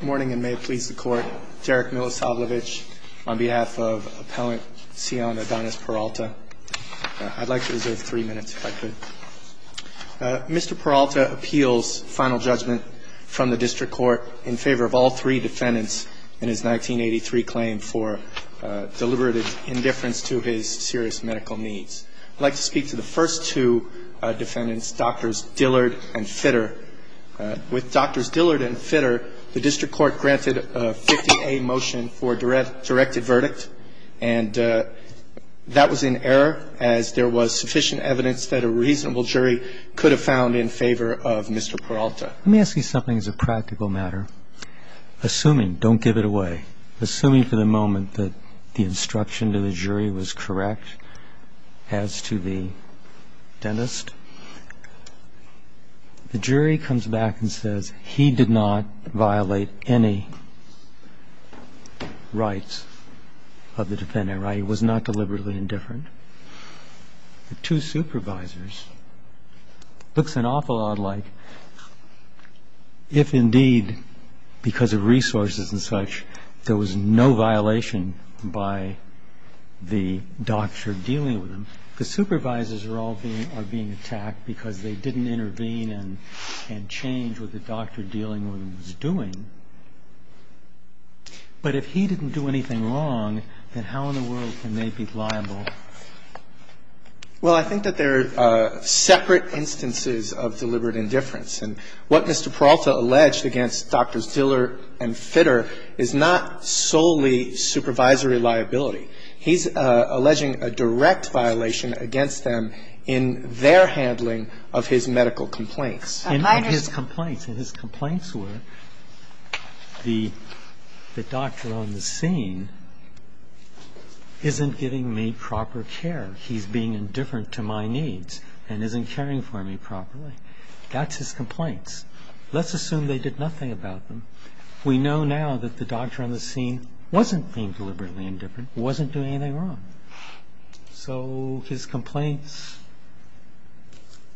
Good morning, and may it please the Court. Derek Milosavljevic on behalf of Appellant Cion Adonis Peralta. I'd like to reserve three minutes if I could. Mr. Peralta appeals final judgment from the District Court in favor of all three defendants in his 1983 claim for deliberate indifference to his serious medical needs. I'd like to speak to the first two defendants, Drs. Dillard and Fitter. With Drs. Dillard and Fitter, the District Court granted a 50-A motion for a directed verdict, and that was in error as there was sufficient evidence that a reasonable jury could have found in favor of Mr. Peralta. Let me ask you something as a practical matter. Assuming, don't give it away, assuming for the moment that the instruction to the jury was correct, as to the dentist, the jury comes back and says he did not violate any rights of the defendant, i.e., was not deliberately indifferent. The two supervisors, it looks an awful lot like if indeed because of resources and such there was no violation by the doctor dealing with him. The supervisors are all being attacked because they didn't intervene and change what the doctor dealing with them was doing. But if he didn't do anything wrong, then how in the world can they be liable? Well, I think that there are separate instances of deliberate indifference. And what Mr. Peralta alleged against Drs. Dillard and Fitter is not solely supervisory liability. He's alleging a direct violation against them in their handling of his medical complaints. And his complaints were the doctor on the scene isn't giving me proper care. He's being indifferent to my needs and isn't caring for me properly. That's his complaints. Let's assume they did nothing about them. We know now that the doctor on the scene wasn't being deliberately indifferent, wasn't doing anything wrong. So his complaints,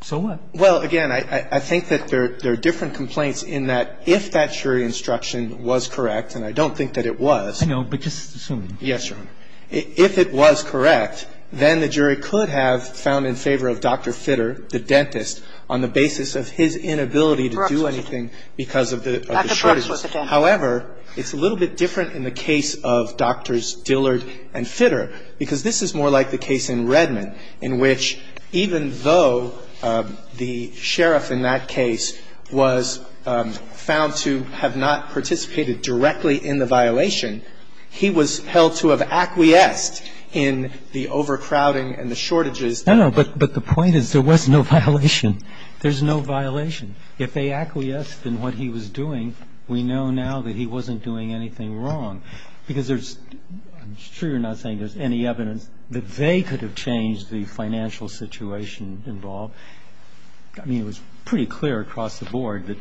so what? Well, again, I think that there are different complaints in that if that jury instruction was correct, and I don't think that it was. Yes, Your Honor. If it was correct, then the jury could have found in favor of Dr. Fitter, the dentist, on the basis of his inability to do anything because of the shortages. However, it's a little bit different in the case of Drs. Dillard and Fitter, because this is more like the case in Redmond, in which even though the sheriff in that case was found to have not participated directly in the violation, he was held to have acquiesced in the overcrowding and the shortages. No, no. But the point is there was no violation. There's no violation. If they acquiesced in what he was doing, we know now that he wasn't doing anything wrong. Because there's – I'm sure you're not saying there's any evidence that they could have changed the financial situation involved. I mean, it was pretty clear across the board that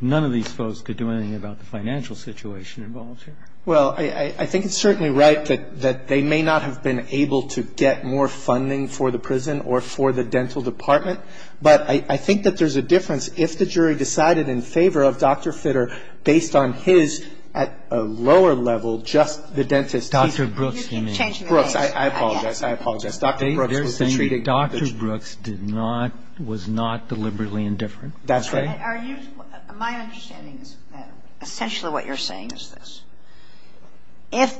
none of these folks could do anything about the financial situation involved here. Well, I think it's certainly right that they may not have been able to get more funding for the prison or for the dental department. But I think that there's a difference if the jury decided in favor of Dr. Fitter based on his, at a lower level, just the dentist. Dr. Brooks, you mean. Brooks. I apologize. I apologize. Dr. Brooks was treated. They're saying Dr. Brooks did not – was not deliberately indifferent. That's right. My understanding is essentially what you're saying is this. If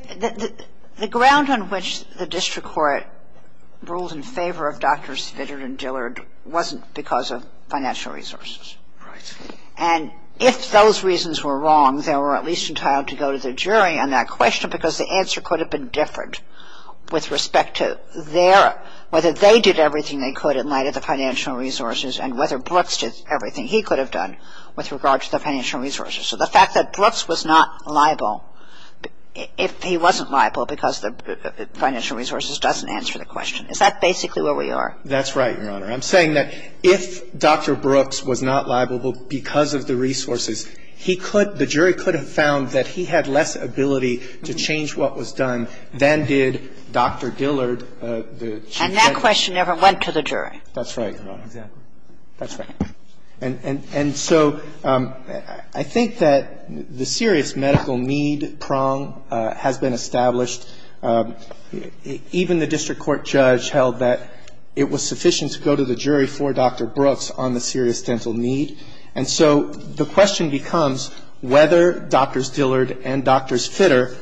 – the ground on which the district court ruled in favor of Drs. Fitter and Dillard wasn't because of financial resources. Right. And if those reasons were wrong, they were at least entitled to go to the jury on that question because the answer could have been different with respect to their – So the fact that Brooks was not liable if he wasn't liable because the financial resources doesn't answer the question. Is that basically where we are? That's right, Your Honor. I'm saying that if Dr. Brooks was not liable because of the resources, he could – the jury could have found that he had less ability to change what was done than did Dr. Dillard. And that question never went to the jury. That's right, Your Honor. Exactly. That's right. And so I think that the serious medical need prong has been established. Even the district court judge held that it was sufficient to go to the jury for Dr. Brooks on the serious dental need. And so the question becomes whether Drs. Dillard and Drs. Fitter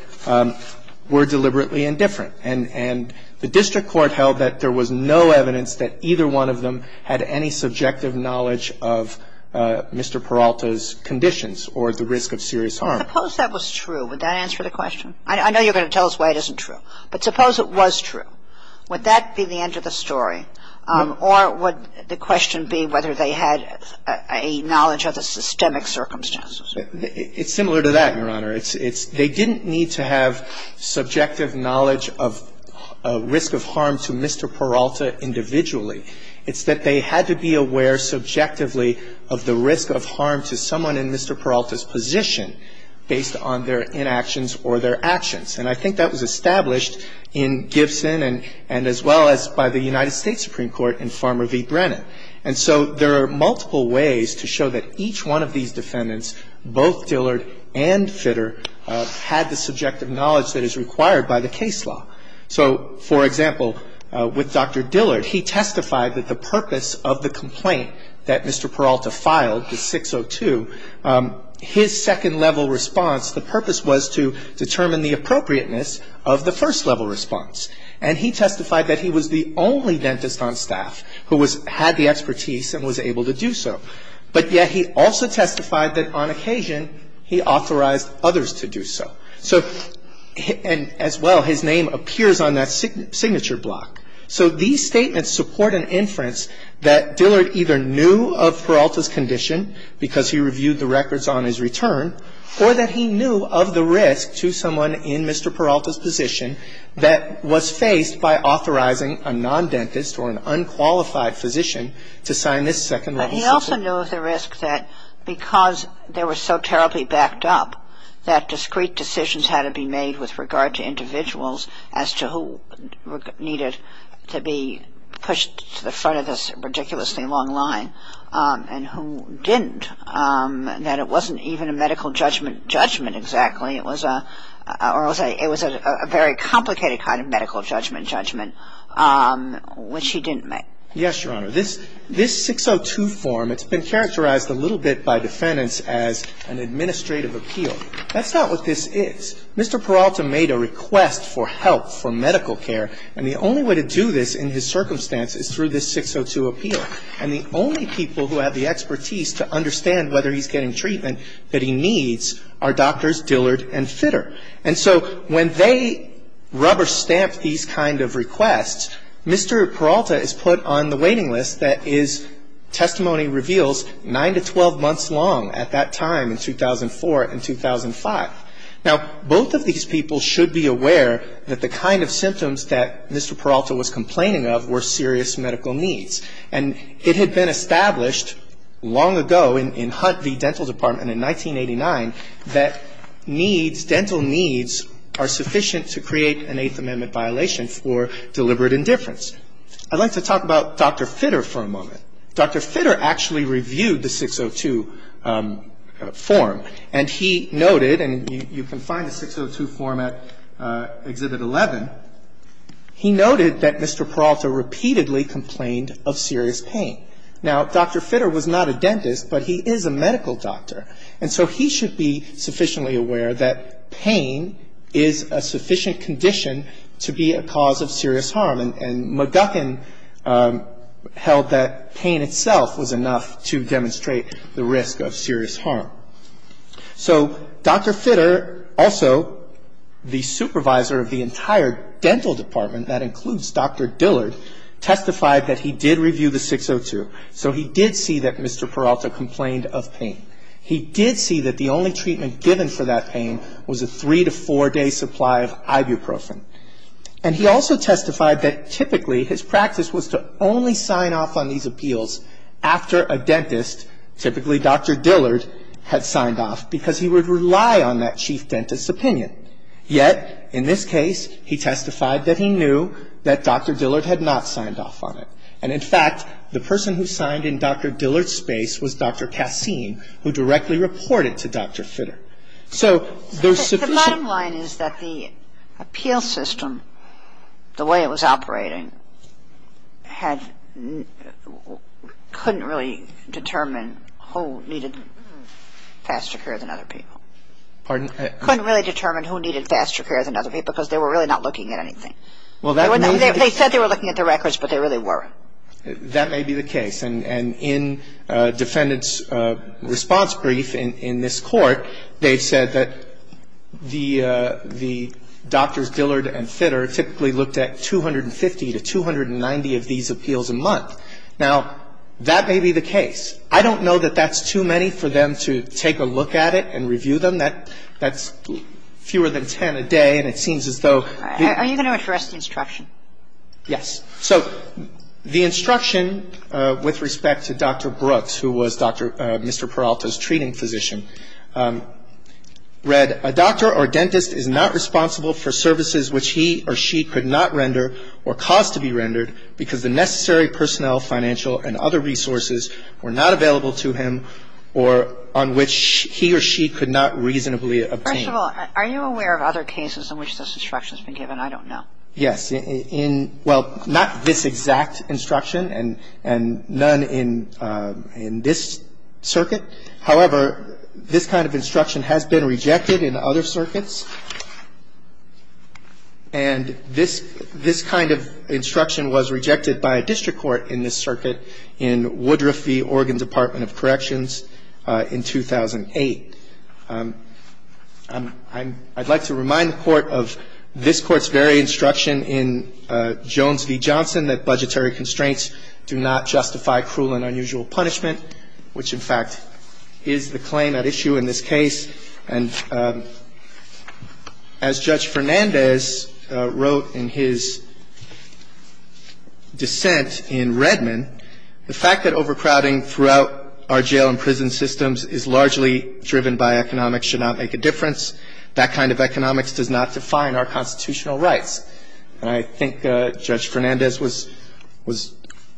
were deliberately indifferent. And the district court held that there was no evidence that either one of them had any subjective knowledge of Mr. Peralta's conditions or the risk of serious harm. Suppose that was true. Would that answer the question? I know you're going to tell us why it isn't true. But suppose it was true. Would that be the end of the story? Or would the question be whether they had a knowledge of the systemic circumstances? It's similar to that, Your Honor. They didn't need to have subjective knowledge of risk of harm to Mr. Peralta individually. It's that they had to be aware subjectively of the risk of harm to someone in Mr. Peralta's position based on their inactions or their actions. And I think that was established in Gibson and as well as by the United States Supreme Court in Farmer v. Brennan. And so there are multiple ways to show that each one of these defendants, both Dillard and Fitter, had the subjective knowledge that is required by the case law. So, for example, with Dr. Dillard, he testified that the purpose of the complaint that Mr. Peralta filed, the 602, his second-level response, the purpose was to determine the appropriateness of the first-level response. And he testified that he was the only dentist on staff who had the expertise and was able to do so. But yet he also testified that on occasion he authorized others to do so. So, and as well, his name appears on that signature block. So these statements support an inference that Dillard either knew of Peralta's condition because he reviewed the records on his return, or that he knew of the risk to someone in Mr. Peralta's position that was faced by authorizing a non-dentist or an unqualified physician to sign this second-level system. But he also knew of the risk that because they were so terribly backed up that discreet decisions had to be made with regard to individuals as to who needed to be pushed to the front of this ridiculously long line and who didn't, that it wasn't even a medical judgment judgment exactly. It was a very complicated kind of medical judgment judgment, which he didn't make. Yes, Your Honor. This 602 form, it's been characterized a little bit by defendants as an administrative appeal. That's not what this is. Mr. Peralta made a request for help for medical care. And the only way to do this in his circumstance is through this 602 appeal. And the only people who have the expertise to understand whether he's getting treatment that he needs are doctors Dillard and Fitter. And so when they rubber-stamp these kind of requests, Mr. Peralta is put on the waiting list that his testimony reveals nine to 12 months long at that time in 2004 and 2005. Now, both of these people should be aware that the kind of symptoms that Mr. Peralta was complaining of were serious medical needs. And it had been established long ago in Hunt v. Dental Department in 1989 that needs, dental needs are sufficient to create an Eighth Amendment violation for deliberate indifference. I'd like to talk about Dr. Fitter for a moment. Dr. Fitter actually reviewed the 602 form, and he noted, and you can find the 602 form at Exhibit 11, he noted that Mr. Peralta repeatedly complained of serious pain. Now, Dr. Fitter was not a dentist, but he is a medical doctor. And so he should be sufficiently aware that pain is a sufficient condition to be a cause of serious harm. And McGuckin held that pain itself was enough to demonstrate the risk of serious harm. So Dr. Fitter, also the supervisor of the entire dental department, that includes Dr. Dillard, testified that he did review the 602. So he did see that Mr. Peralta complained of pain. He did see that the only treatment given for that pain was a three to four day supply of ibuprofen. And he also testified that typically his practice was to only sign off on these appeals after a dentist, typically Dr. Dillard, had signed off because he would rely on that chief dentist's opinion. Yet, in this case, he testified that he knew that Dr. Dillard had not signed off on it. And, in fact, the person who signed in Dr. Dillard's space was Dr. Kassim, who directly reported to Dr. Fitter. So there's sufficient... I'm sorry, Your Honor. Could you determine who needed faster care than other people? Pardon? Couldn't really determine who needed faster care than other people because they were really not looking at anything. Well, that may be... They said they were looking at the records, but they really weren't. That may be the case. And in defendant's response brief in this Court, they have said that the doctors, Dillard and Fitter, typically looked at 250 to 290 of these appeals a month. Now, that may be the case. I don't know that that's too many for them to take a look at it and review them. That's fewer than 10 a day, and it seems as though... Are you going to address the instruction? Yes. So the instruction with respect to Dr. Brooks, who was Mr. Peralta's treating physician, read, A doctor or dentist is not responsible for services which he or she could not render or cause to be rendered because the necessary personnel, financial, and other resources were not available to him or on which he or she could not reasonably obtain. First of all, are you aware of other cases in which this instruction has been given? I don't know. Yes. In, well, not this exact instruction and none in this circuit. However, this kind of instruction has been rejected in other circuits, and this kind of instruction was rejected by a district court in this circuit in Woodruff v. Oregon Department of Corrections in 2008. I'd like to remind the Court of this Court's very instruction in Jones v. Johnson that budgetary constraints do not justify cruel and unusual punishment, which, in fact, is the claim at issue in this case. And as Judge Fernandez wrote in his dissent in Redmond, the fact that overcrowding throughout our jail and prison systems is largely driven by economics should not make a difference. That kind of economics does not define our constitutional rights. And I think Judge Fernandez was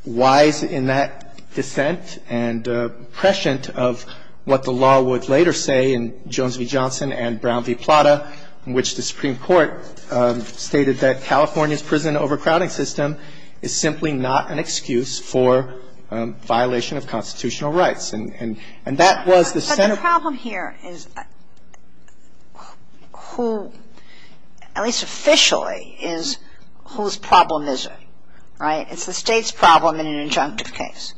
wise in that dissent and prescient of what the law would later say in Jones v. Johnson and Brown v. Plata, in which the Supreme Court stated that California's prison overcrowding system is simply not an excuse for violation of constitutional rights. And that was the center. The problem here is who, at least officially, is whose problem is it, right? It's the state's problem in an injunctive case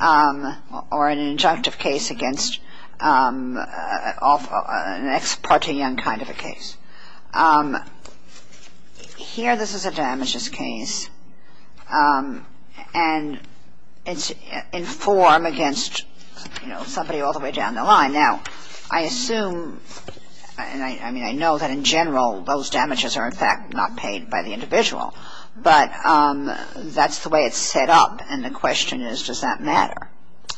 or an injunctive case against an ex parte young kind of a case. Here this is a damages case, and it's in form against, you know, somebody all the way down the line. Now, I assume, and I mean, I know that in general those damages are, in fact, not paid by the individual. But that's the way it's set up. And the question is, does that matter?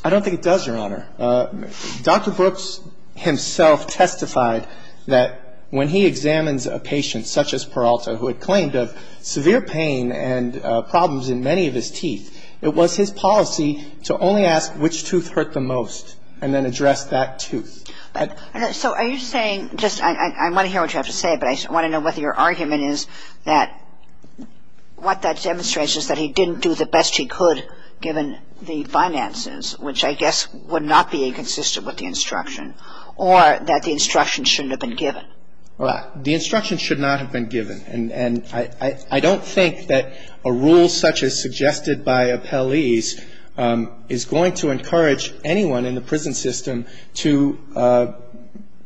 I don't think it does, Your Honor. Dr. Brooks himself testified that when he examines a patient such as Peralta, who had claimed of severe pain and problems in many of his teeth, it was his policy to only ask which tooth hurt the most and then address that tooth. So are you saying, just I want to hear what you have to say, but I want to know whether your argument is that what that demonstrates is that he didn't do the best he could given the finances, which I guess would not be inconsistent with the instruction, or that the instruction shouldn't have been given? The instruction should not have been given. And I don't think that a rule such as suggested by appellees is going to encourage anyone in the prison system to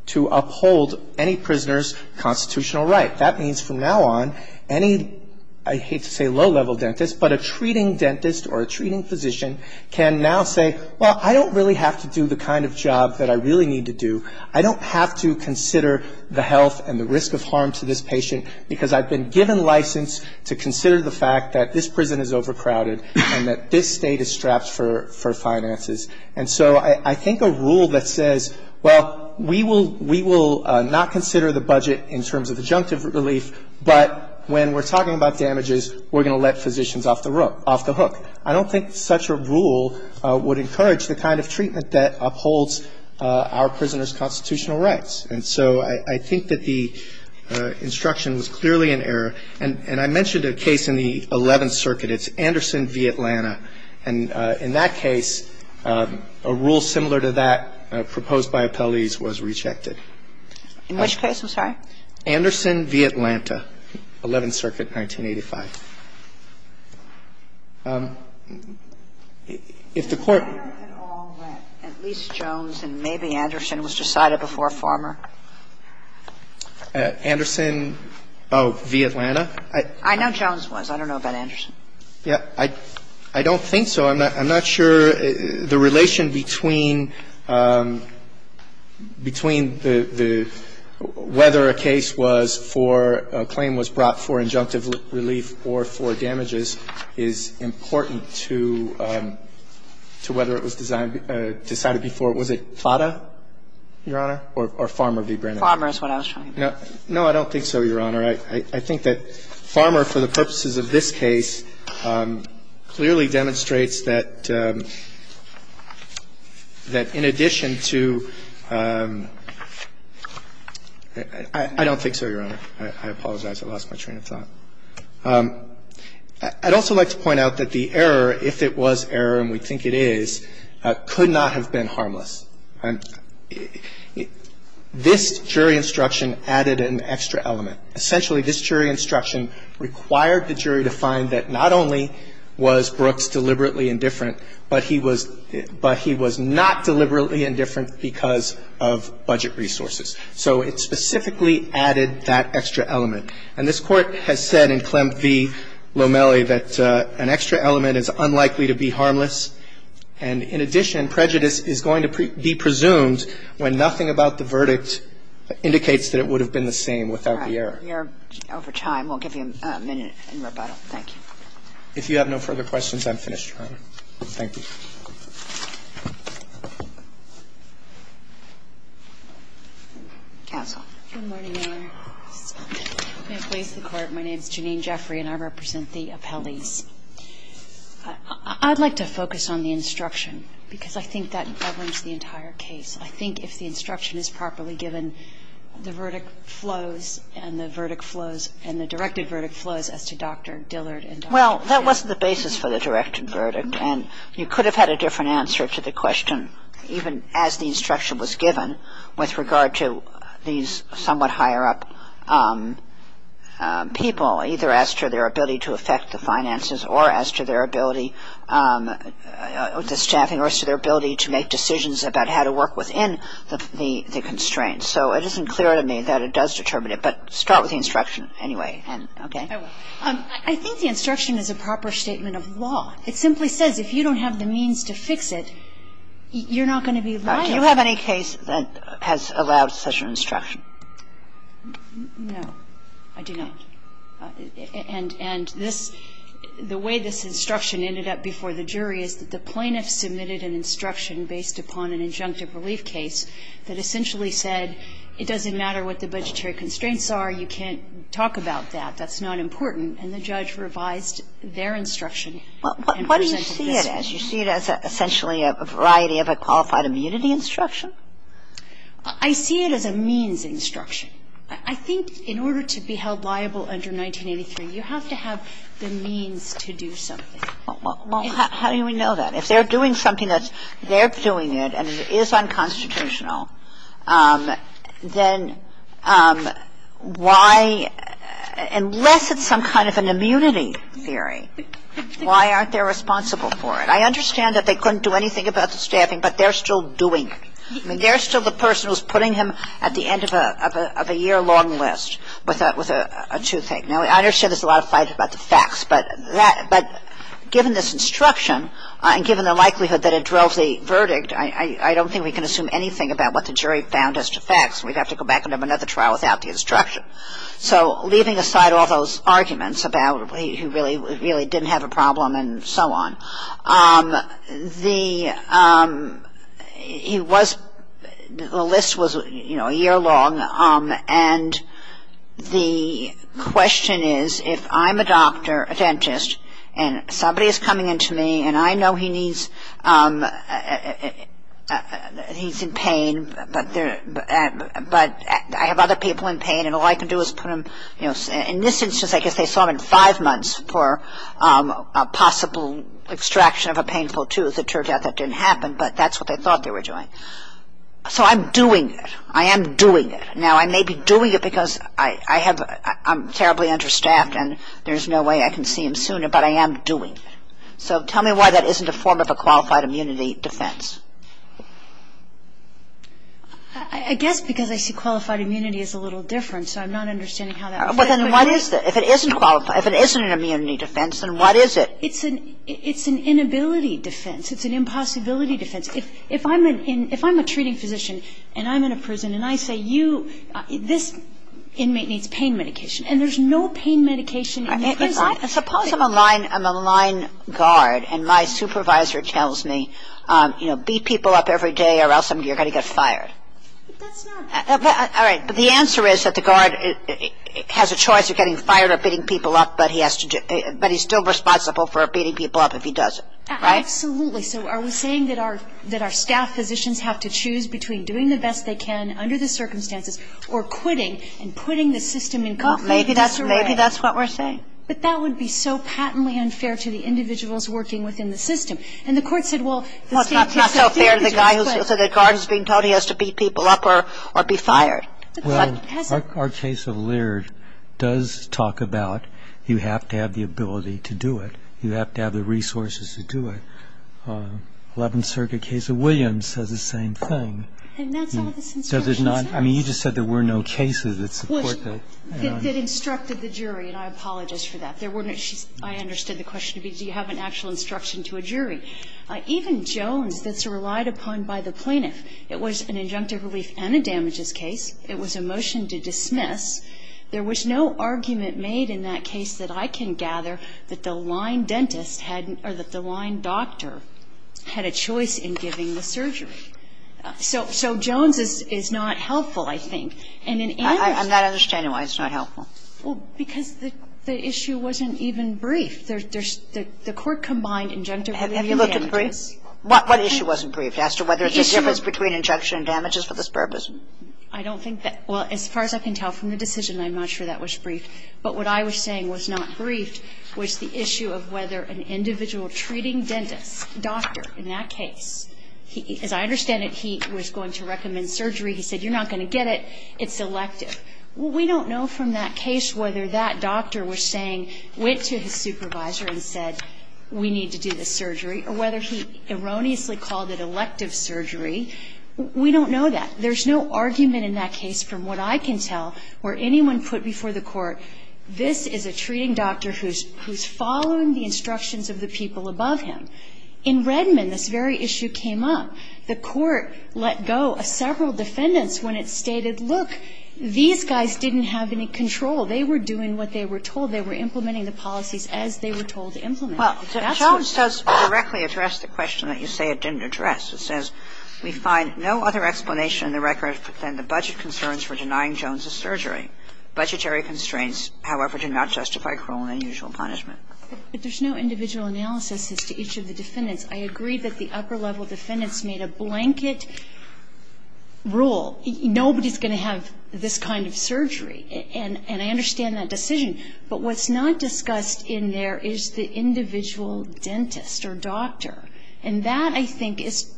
uphold any prisoner's constitutional right. That means from now on, any, I hate to say low-level dentist, but a treating dentist or a treating physician can now say, well, I don't really have to do the kind of job that I really need to do. I don't have to consider the health and the risk of harm to this patient because I've been given license to consider the fact that this prison is overcrowded and that this State is strapped for finances. And so I think a rule that says, well, we will not consider the budget in terms of adjunctive relief, but when we're talking about damages, we're going to let physicians off the hook. I don't think such a rule would encourage the kind of treatment that upholds our prisoners' constitutional rights. And so I think that the instruction was clearly in error. And I mentioned a case in the Eleventh Circuit. It's Anderson v. Atlanta. And in that case, a rule similar to that proposed by appellees was rejected. In which case, I'm sorry? Anderson v. Atlanta, Eleventh Circuit, 1985. If the Court ---- Kagan, at all, that at least Jones and maybe Anderson was decided before Farmer? Anderson, oh, v. Atlanta? I know Jones was. I don't know about Anderson. Yeah. I don't think so. I'm not sure the relation between the whether a case was for a claim was brought up for adjunctive relief or for damages is important to whether it was decided before, was it Plata, Your Honor, or Farmer v. Brandon? Farmer is what I was trying to say. No, I don't think so, Your Honor. I think that Farmer, for the purposes of this case, clearly demonstrates that in addition to ---- I don't think so, Your Honor. I apologize. I lost my train of thought. I'd also like to point out that the error, if it was error, and we think it is, could not have been harmless. This jury instruction added an extra element. Essentially, this jury instruction required the jury to find that not only was Brooks deliberately indifferent, but he was not deliberately indifferent because of budget resources. So it specifically added that extra element. And this Court has said in Klemp v. Lomelli that an extra element is unlikely to be harmless, and in addition, prejudice is going to be presumed when nothing about the verdict indicates that it would have been the same without the error. All right. We are over time. We'll give you a minute in rebuttal. Thank you. If you have no further questions, I'm finished, Your Honor. Thank you. Counsel. Good morning, Your Honor. May it please the Court. My name is Janine Jeffrey, and I represent the appellees. I'd like to focus on the instruction because I think that governs the entire case. I think if the instruction is properly given, the verdict flows and the verdict flows and the directed verdict flows as to Dr. Dillard and Dr. Kemp. Well, that wasn't the basis for the directed verdict, and you could have had a different answer to the question even as the instruction was given with regard to these somewhat higher-up people, either as to their ability to affect the finances or as to their ability, the staffing or as to their ability to make decisions about how to work within the constraints. So it isn't clear to me that it does determine it, but start with the instruction anyway. Okay? I will. I think the instruction is a proper statement of law. It simply says if you don't have the means to fix it, you're not going to be liable. Do you have any case that has allowed such an instruction? No, I do not. And this, the way this instruction ended up before the jury is that the plaintiff submitted an instruction based upon an injunctive relief case that essentially said it doesn't matter what the budgetary constraints are, you can't talk about that, that's not important. And the judge revised their instruction. Well, what do you see it as? You see it as essentially a variety of a qualified immunity instruction? I see it as a means instruction. I think in order to be held liable under 1983, you have to have the means to do something. Well, how do we know that? If they're doing something that's they're doing it and it is unconstitutional, then why, unless it's some kind of an immunity theory. Why aren't they responsible for it? I understand that they couldn't do anything about the staffing, but they're still doing it. I mean, they're still the person who's putting him at the end of a year-long list with a toothache. Now, I understand there's a lot of fight about the facts, but given this instruction and given the likelihood that it drove the verdict, I don't think we can assume anything about what the jury found as to facts. We'd have to go back and have another trial without the instruction. So leaving aside all those arguments about he really didn't have a problem and so on, the list was, you know, a year long, and the question is if I'm a doctor, a dentist, and somebody is coming in to me, and I know he's in pain, but I have other people in pain and all I can do is put him, you know, in this instance I guess they saw him in five months for a possible extraction of a painful tooth. It turned out that didn't happen, but that's what they thought they were doing. So I'm doing it. I am doing it. Now, I may be doing it because I'm terribly understaffed and there's no way I can see him sooner, but I am doing it. So tell me why that isn't a form of a qualified immunity defense. I guess because I see qualified immunity as a little different, so I'm not understanding how that works. Well, then what is it? If it isn't qualified, if it isn't an immunity defense, then what is it? It's an inability defense. It's an impossibility defense. If I'm a treating physician and I'm in a prison and I say, you, this inmate needs pain medication, and there's no pain medication in the prison. Suppose I'm a line guard and my supervisor tells me, you know, beat people up every day or else you're going to get fired. All right. But the answer is that the guard has a choice of getting fired or beating people up, but he's still responsible for beating people up if he does it, right? Absolutely. So are we saying that our staff physicians have to choose between doing the best they can under the circumstances or quitting and putting the system in complete disarray? Maybe that's what we're saying. But that would be so patently unfair to the individuals working within the system. And the Court said, well, the staff physician has a choice. Well, it's not so fair to the guy who said the guard is being told he has to beat people up or be fired. Well, our case of Leard does talk about you have to have the ability to do it. You have to have the resources to do it. Eleventh Circuit case of Williams says the same thing. And that's all this instruction says. Does it not? I mean, you just said there were no cases that support that. Well, that instructed the jury, and I apologize for that. I understood the question to be, do you have an actual instruction to a jury? Even Jones, that's relied upon by the plaintiff, it was an injunctive relief and a damages case. It was a motion to dismiss. There was no argument made in that case that I can gather that the line dentist had or that the line doctor had a choice in giving the surgery. So Jones is not helpful, I think. And in any other case. I'm not understanding why it's not helpful. Well, because the issue wasn't even briefed. The court combined injunctive relief and damages. Have you looked at the brief? What issue wasn't briefed as to whether there's a difference between injunction and damages for this purpose? I don't think that. Well, as far as I can tell from the decision, I'm not sure that was briefed. But what I was saying was not briefed was the issue of whether an individual treating dentist, doctor in that case, as I understand it, he was going to recommend surgery. He said, you're not going to get it. It's elective. Well, we don't know from that case whether that doctor was saying, went to his supervisor and said, we need to do this surgery, or whether he erroneously called it elective surgery. We don't know that. There's no argument in that case from what I can tell where anyone put before the court, this is a treating doctor who's following the instructions of the people above him. In Redmond, this very issue came up. The court let go of several defendants when it stated, look, these guys didn't have any control. They were doing what they were told. They were implementing the policies as they were told to implement them. That's what it said. Well, Jones does directly address the question that you say it didn't address. It says, We find no other explanation in the record than the budget concerns for denying Jones's surgery. Budgetary constraints, however, do not justify cruel and unusual punishment. But there's no individual analysis as to each of the defendants. I agree that the upper-level defendants made a blanket rule. Nobody's going to have this kind of surgery. And I understand that decision. But what's not discussed in there is the individual dentist or doctor. And that, I think, is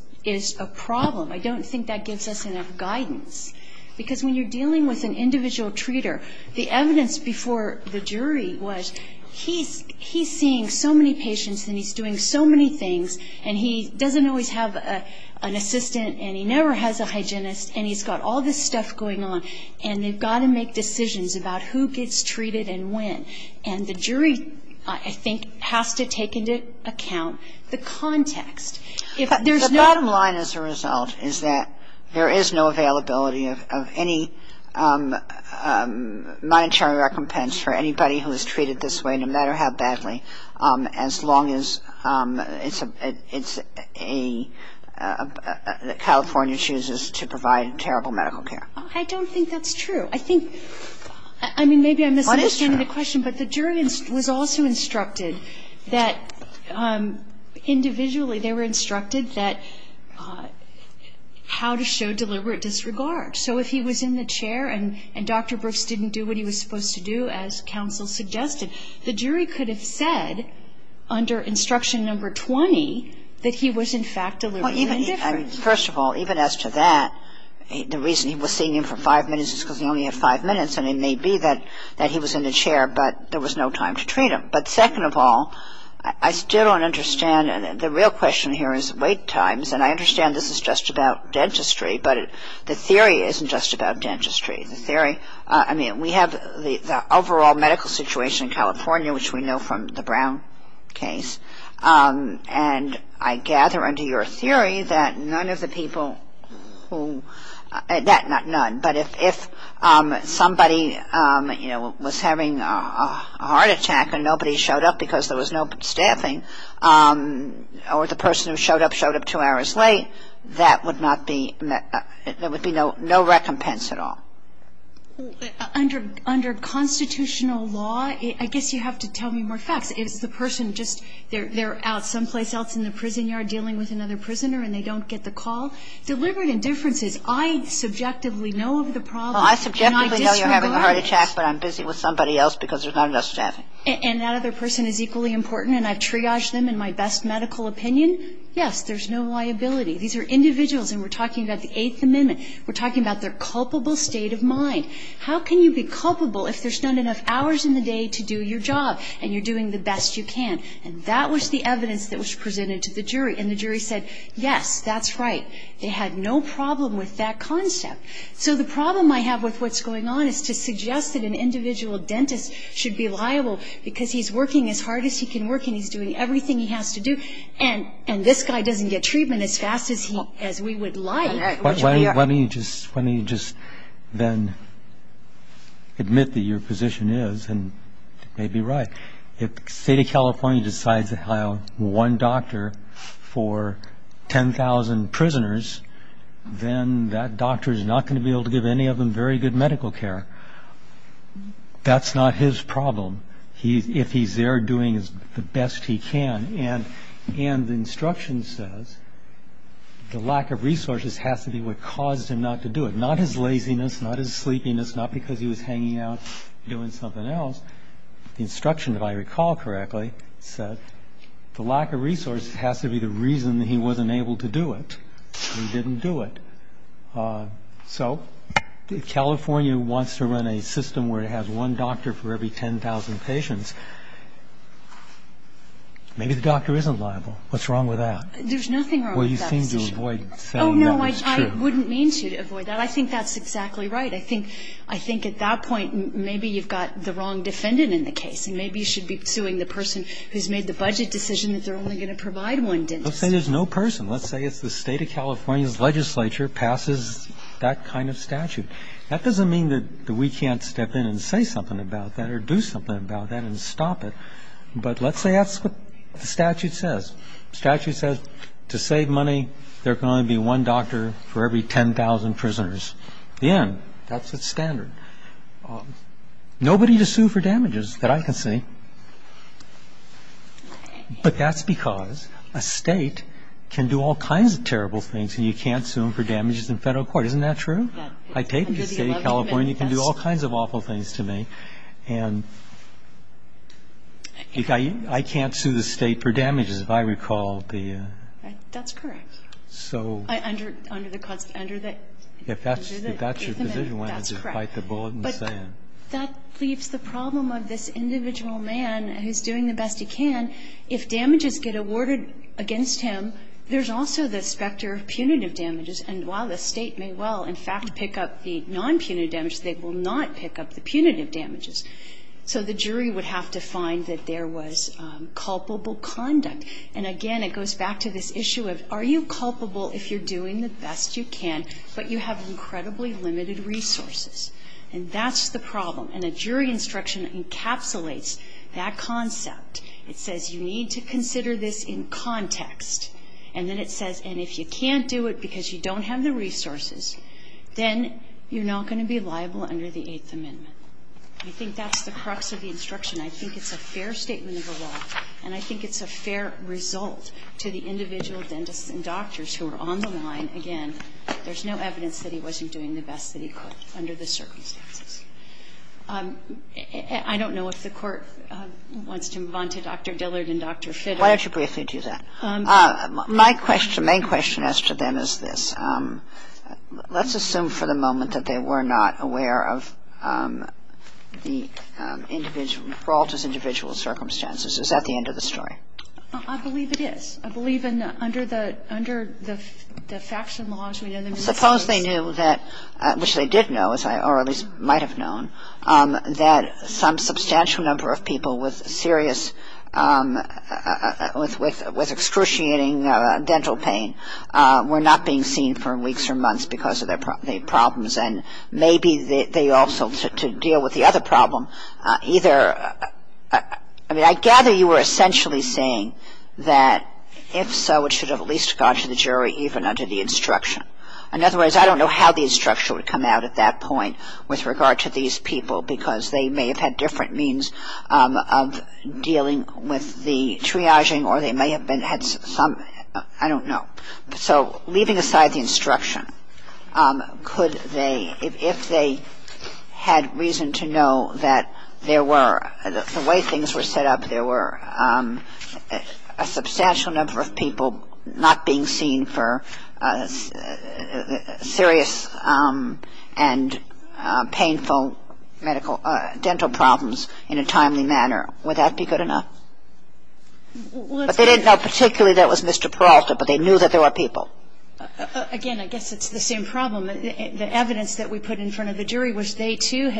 a problem. I don't think that gives us enough guidance. Because when you're dealing with an individual treater, the evidence before the jury was he's seeing so many patients and he's doing so many things. And he doesn't always have an assistant. And he never has a hygienist. And he's got all this stuff going on. And they've got to make decisions about who gets treated and when. And the jury, I think, has to take into account the context. The bottom line as a result is that there is no availability of any monetary recompense for anybody who is treated this way, no matter how badly, as long as California chooses to provide terrible medical care. I don't think that's true. I think, I mean, maybe I'm misunderstanding the question, but the jury was also instructed that individually they were instructed that how to show deliberate disregard. So if he was in the chair and Dr. Brooks didn't do what he was supposed to do, as counsel suggested, the jury could have said under instruction number 20 that he was, in fact, deliberately indifferent. First of all, even as to that, the reason he was seeing him for five minutes is because he only had five minutes. And it may be that he was in the chair, but there was no time to treat him. But second of all, I still don't understand. The real question here is wait times. And I understand this is just about dentistry. But the theory isn't just about dentistry. The theory, I mean, we have the overall medical situation in California, which we know from the Brown case. And I gather under your theory that none of the people who, that not none, but if somebody, you know, was having a heart attack and nobody showed up because there was no staffing, or the person who showed up showed up two hours late, that would not be, there would be no recompense at all. Under constitutional law, I guess you have to tell me more facts. Is the person just, they're out someplace else in the prison yard dealing with another prisoner and they don't get the call? Deliberate indifferences. I subjectively know of the problem and I disregard it. Well, I subjectively know you're having a heart attack, but I'm busy with somebody else because there's not enough staffing. And that other person is equally important and I've triaged them in my best medical opinion? Yes, there's no liability. These are individuals, and we're talking about the Eighth Amendment. We're talking about their culpable state of mind. How can you be culpable if there's not enough hours in the day to do your job and you're doing the best you can? And that was the evidence that was presented to the jury. And the jury said, yes, that's right. They had no problem with that concept. So the problem I have with what's going on is to suggest that an individual dentist should be liable because he's working as hard as he can work and he's doing everything he has to do. And this guy doesn't get treatment as fast as we would like. Let me just then admit that your position is and may be right. If the State of California decides to hire one doctor for 10,000 prisoners, then that doctor is not going to be able to give any of them very good medical care. That's not his problem if he's there doing the best he can. And the instruction says the lack of resources has to be what caused him not to do it, not his laziness, not his sleepiness, not because he was hanging out doing something else. The instruction, if I recall correctly, said the lack of resources has to be the reason that he wasn't able to do it. He didn't do it. So if California wants to run a system where it has one doctor for every 10,000 patients, maybe the doctor isn't liable. What's wrong with that? There's nothing wrong with that decision. Well, you seem to avoid saying that was true. Oh, no, I wouldn't mean to avoid that. I think that's exactly right. I think at that point maybe you've got the wrong defendant in the case, and maybe you should be suing the person who's made the budget decision that they're only going to provide one dentist. Let's say there's no person. Let's say it's the State of California's legislature passes that kind of statute. That doesn't mean that we can't step in and say something about that or do something about that and stop it, but let's say that's what the statute says. The statute says to save money, there can only be one doctor for every 10,000 prisoners. The end. That's the standard. Nobody to sue for damages that I can see, but that's because a State can do all kinds of terrible things and you can't sue them for damages in federal court. Isn't that true? I take it the State of California can do all kinds of awful things to me, and I can't sue the State for damages if I recall the ‑‑ That's correct. So ‑‑ Under the ‑‑ If that's your position, why not just bite the bullet and say it? But that leaves the problem of this individual man who's doing the best he can. If damages get awarded against him, there's also the specter of punitive damages. And while the State may well, in fact, pick up the nonpunitive damages, they will not pick up the punitive damages. So the jury would have to find that there was culpable conduct. And again, it goes back to this issue of are you culpable if you're doing the best you can, but you have incredibly limited resources? And that's the problem. And a jury instruction encapsulates that concept. It says you need to consider this in context. And then it says, and if you can't do it because you don't have the resources, then you're not going to be liable under the Eighth Amendment. I think that's the crux of the instruction. I think it's a fair statement of the law. And I think it's a fair result to the individual dentists and doctors who are on the line. Again, there's no evidence that he wasn't doing the best that he could under the circumstances. I don't know if the Court wants to move on to Dr. Dillard and Dr. Fitter. Kagan. Why don't you briefly do that? My question, main question as to them is this. Let's assume for the moment that they were not aware of the individual, Peralta's individual circumstances. Is that the end of the story? I believe it is. I believe under the faction laws. Suppose they knew that, which they did know, or at least might have known, that some substantial number of people with serious, with excruciating dental pain were not being seen for weeks or months because of their problems. And maybe they also, to deal with the other problem, either, I mean, I gather you were essentially saying that if so, it should have at least gone to the jury even under the instruction. In other words, I don't know how the instruction would come out at that point with regard to these people because they may have had different means of dealing with the triaging or they may have been, had some, I don't know. So leaving aside the instruction, could they, if they had reason to know that there were the way things were set up, there were a substantial number of people not being seen for serious and painful medical, dental problems in a timely manner. Would that be good enough? But they didn't know particularly that it was Mr. Peralta, but they knew that there were people. Again, I guess it's the same problem. The evidence that we put in front of the jury was they, too, Well,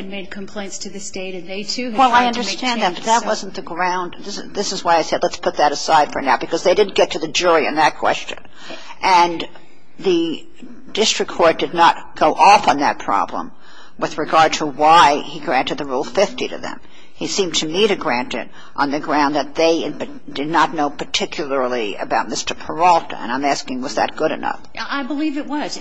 I understand that, but that wasn't the ground. This is why I said let's put that aside for now because they didn't get to the jury in that question. And the district court did not go off on that problem with regard to why he granted the Rule 50 to them. He seemed to me to grant it on the ground that they did not know particularly about Mr. Peralta. And I'm asking was that good enough? I believe it was.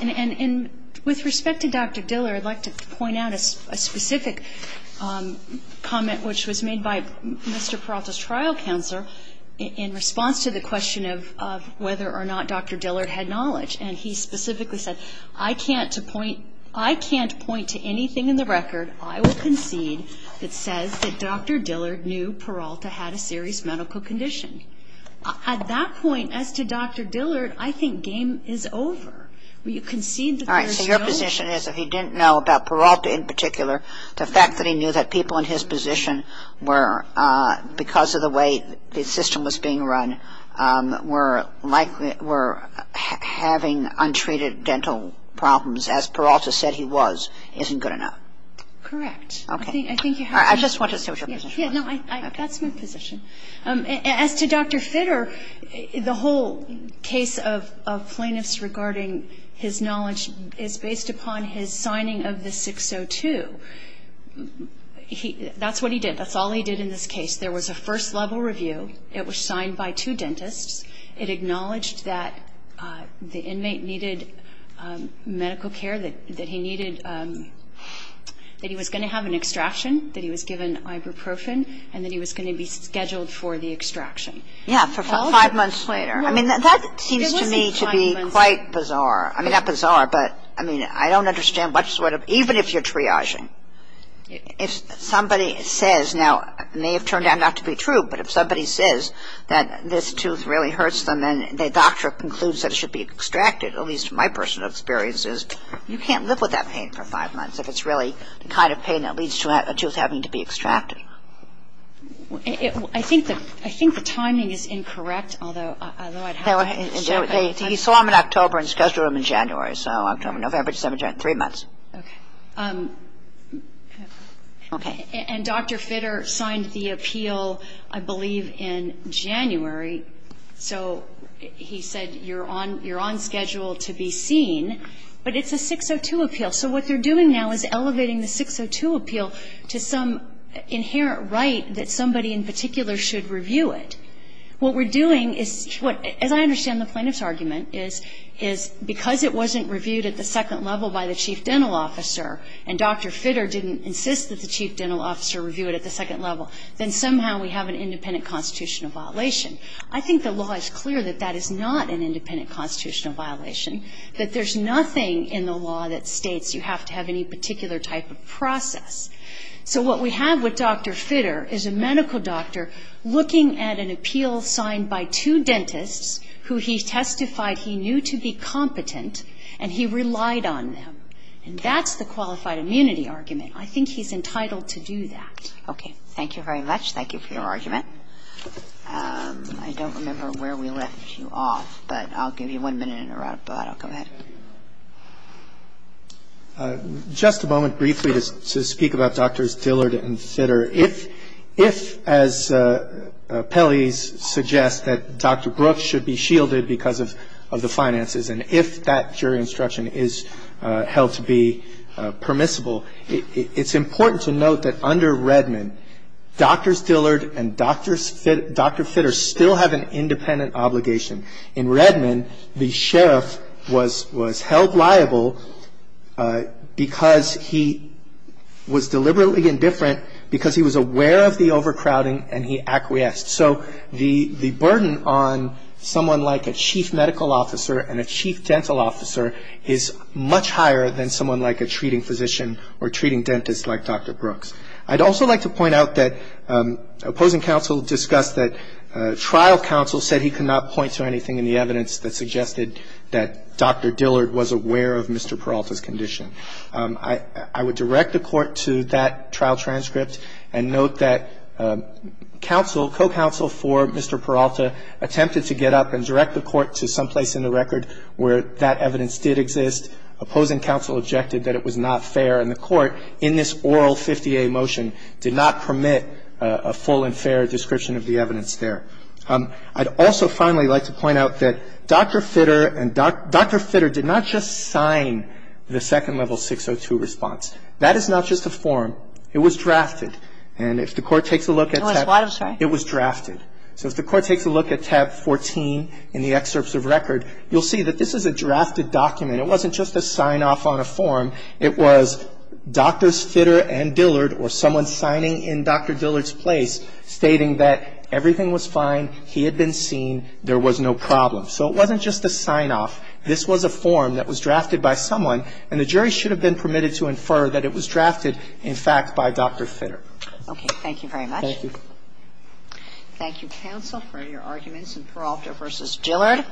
With respect to Dr. Dillard, I'd like to point out a specific comment which was made by Mr. Peralta's trial counselor in response to the question of whether or not Dr. Dillard had knowledge. And he specifically said, I can't point to anything in the record, I will concede, that says that Dr. Dillard knew Peralta had a serious medical condition. At that point, as to Dr. Dillard, I think game is over. All right. So your position is if he didn't know about Peralta in particular, the fact that he knew that people in his position were, because of the way the system was being run, were likely, were having untreated dental problems as Peralta said he was, isn't good enough? Correct. Okay. I just want to say what your position was. That's my position. As to Dr. Fitter, the whole case of plaintiffs regarding his knowledge is based upon his signing of the 602. That's what he did. That's all he did in this case. There was a first level review. It was signed by two dentists. It acknowledged that the inmate needed medical care, that he needed, that he was going to have an extraction, that he was given ibuprofen, and that he was going to be scheduled for the extraction. Yeah, for five months later. I mean, that seems to me to be quite bizarre. I mean, not bizarre, but I mean, I don't understand what sort of, even if you're triaging, if somebody says, now it may have turned out not to be true, but if somebody says that this tooth really hurts them and the doctor concludes that it should be extracted, at least my personal experience is, you can't live with that pain for five months if it's really the kind of pain that leads to a tooth having to be extracted. I think the timing is incorrect, although I'd have to check. He saw them in October and scheduled them in January. So October, November, December, January, three months. Okay. Okay. And Dr. Fitter signed the appeal, I believe, in January. So he said, you're on schedule to be seen, but it's a 602 appeal. So what they're doing now is elevating the 602 appeal to some inherent right that somebody in particular should review it. What we're doing is, as I understand the plaintiff's argument, is because it wasn't reviewed at the second level by the chief dental officer and Dr. Fitter didn't insist that the chief dental officer review it at the second level, then somehow we have an independent constitutional violation. I think the law is clear that that is not an independent constitutional violation, that there's nothing in the law that states you have to have any particular type of process. So what we have with Dr. Fitter is a medical doctor looking at an appeal signed by two dentists who he testified he knew to be competent and he relied on them. And that's the qualified immunity argument. I think he's entitled to do that. Okay. Thank you very much. Thank you for your argument. I don't remember where we left you off, but I'll give you one minute in a row, but I'll go ahead. Just a moment briefly to speak about Drs. Dillard and Fitter. If, as Pelley suggests, that Dr. Brooks should be shielded because of the finances and if that jury instruction is held to be permissible, it's important to note that under Redmond, Drs. Dillard and Dr. Fitter still have an independent obligation. In Redmond, the sheriff was held liable because he was deliberately indifferent because he was aware of the overcrowding and he acquiesced. So the burden on someone like a chief medical officer and a chief dental officer is much higher than someone like a treating physician or treating dentist like Dr. Brooks. I'd also like to point out that opposing counsel discussed that trial counsel said he could not point to anything in the evidence that suggested that Dr. Dillard was aware of Mr. Peralta's condition. I would direct the Court to that trial transcript and note that counsel, co-counsel for Mr. Peralta attempted to get up and direct the Court to someplace in the record where that evidence did exist. Opposing counsel objected that it was not fair and the Court in this oral 50A motion did not permit a full and fair description of the evidence there. I'd also finally like to point out that Dr. Fitter and Dr. Fitter did not just sign the Second Level 602 response. That is not just a form. It was drafted. And if the Court takes a look at that, it was drafted. So if the Court takes a look at tab 14 in the excerpts of record, you'll see that this is a drafted document. It wasn't just a sign-off on a form. It was Drs. Fitter and Dillard or someone signing in Dr. Dillard's place stating that everything was fine, he had been seen, there was no problem. So it wasn't just a sign-off. This was a form that was drafted by someone, and the jury should have been permitted to infer that it was drafted, in fact, by Dr. Fitter. Okay. Thank you very much. Thank you, counsel, for your arguments in Peralta v. Dillard.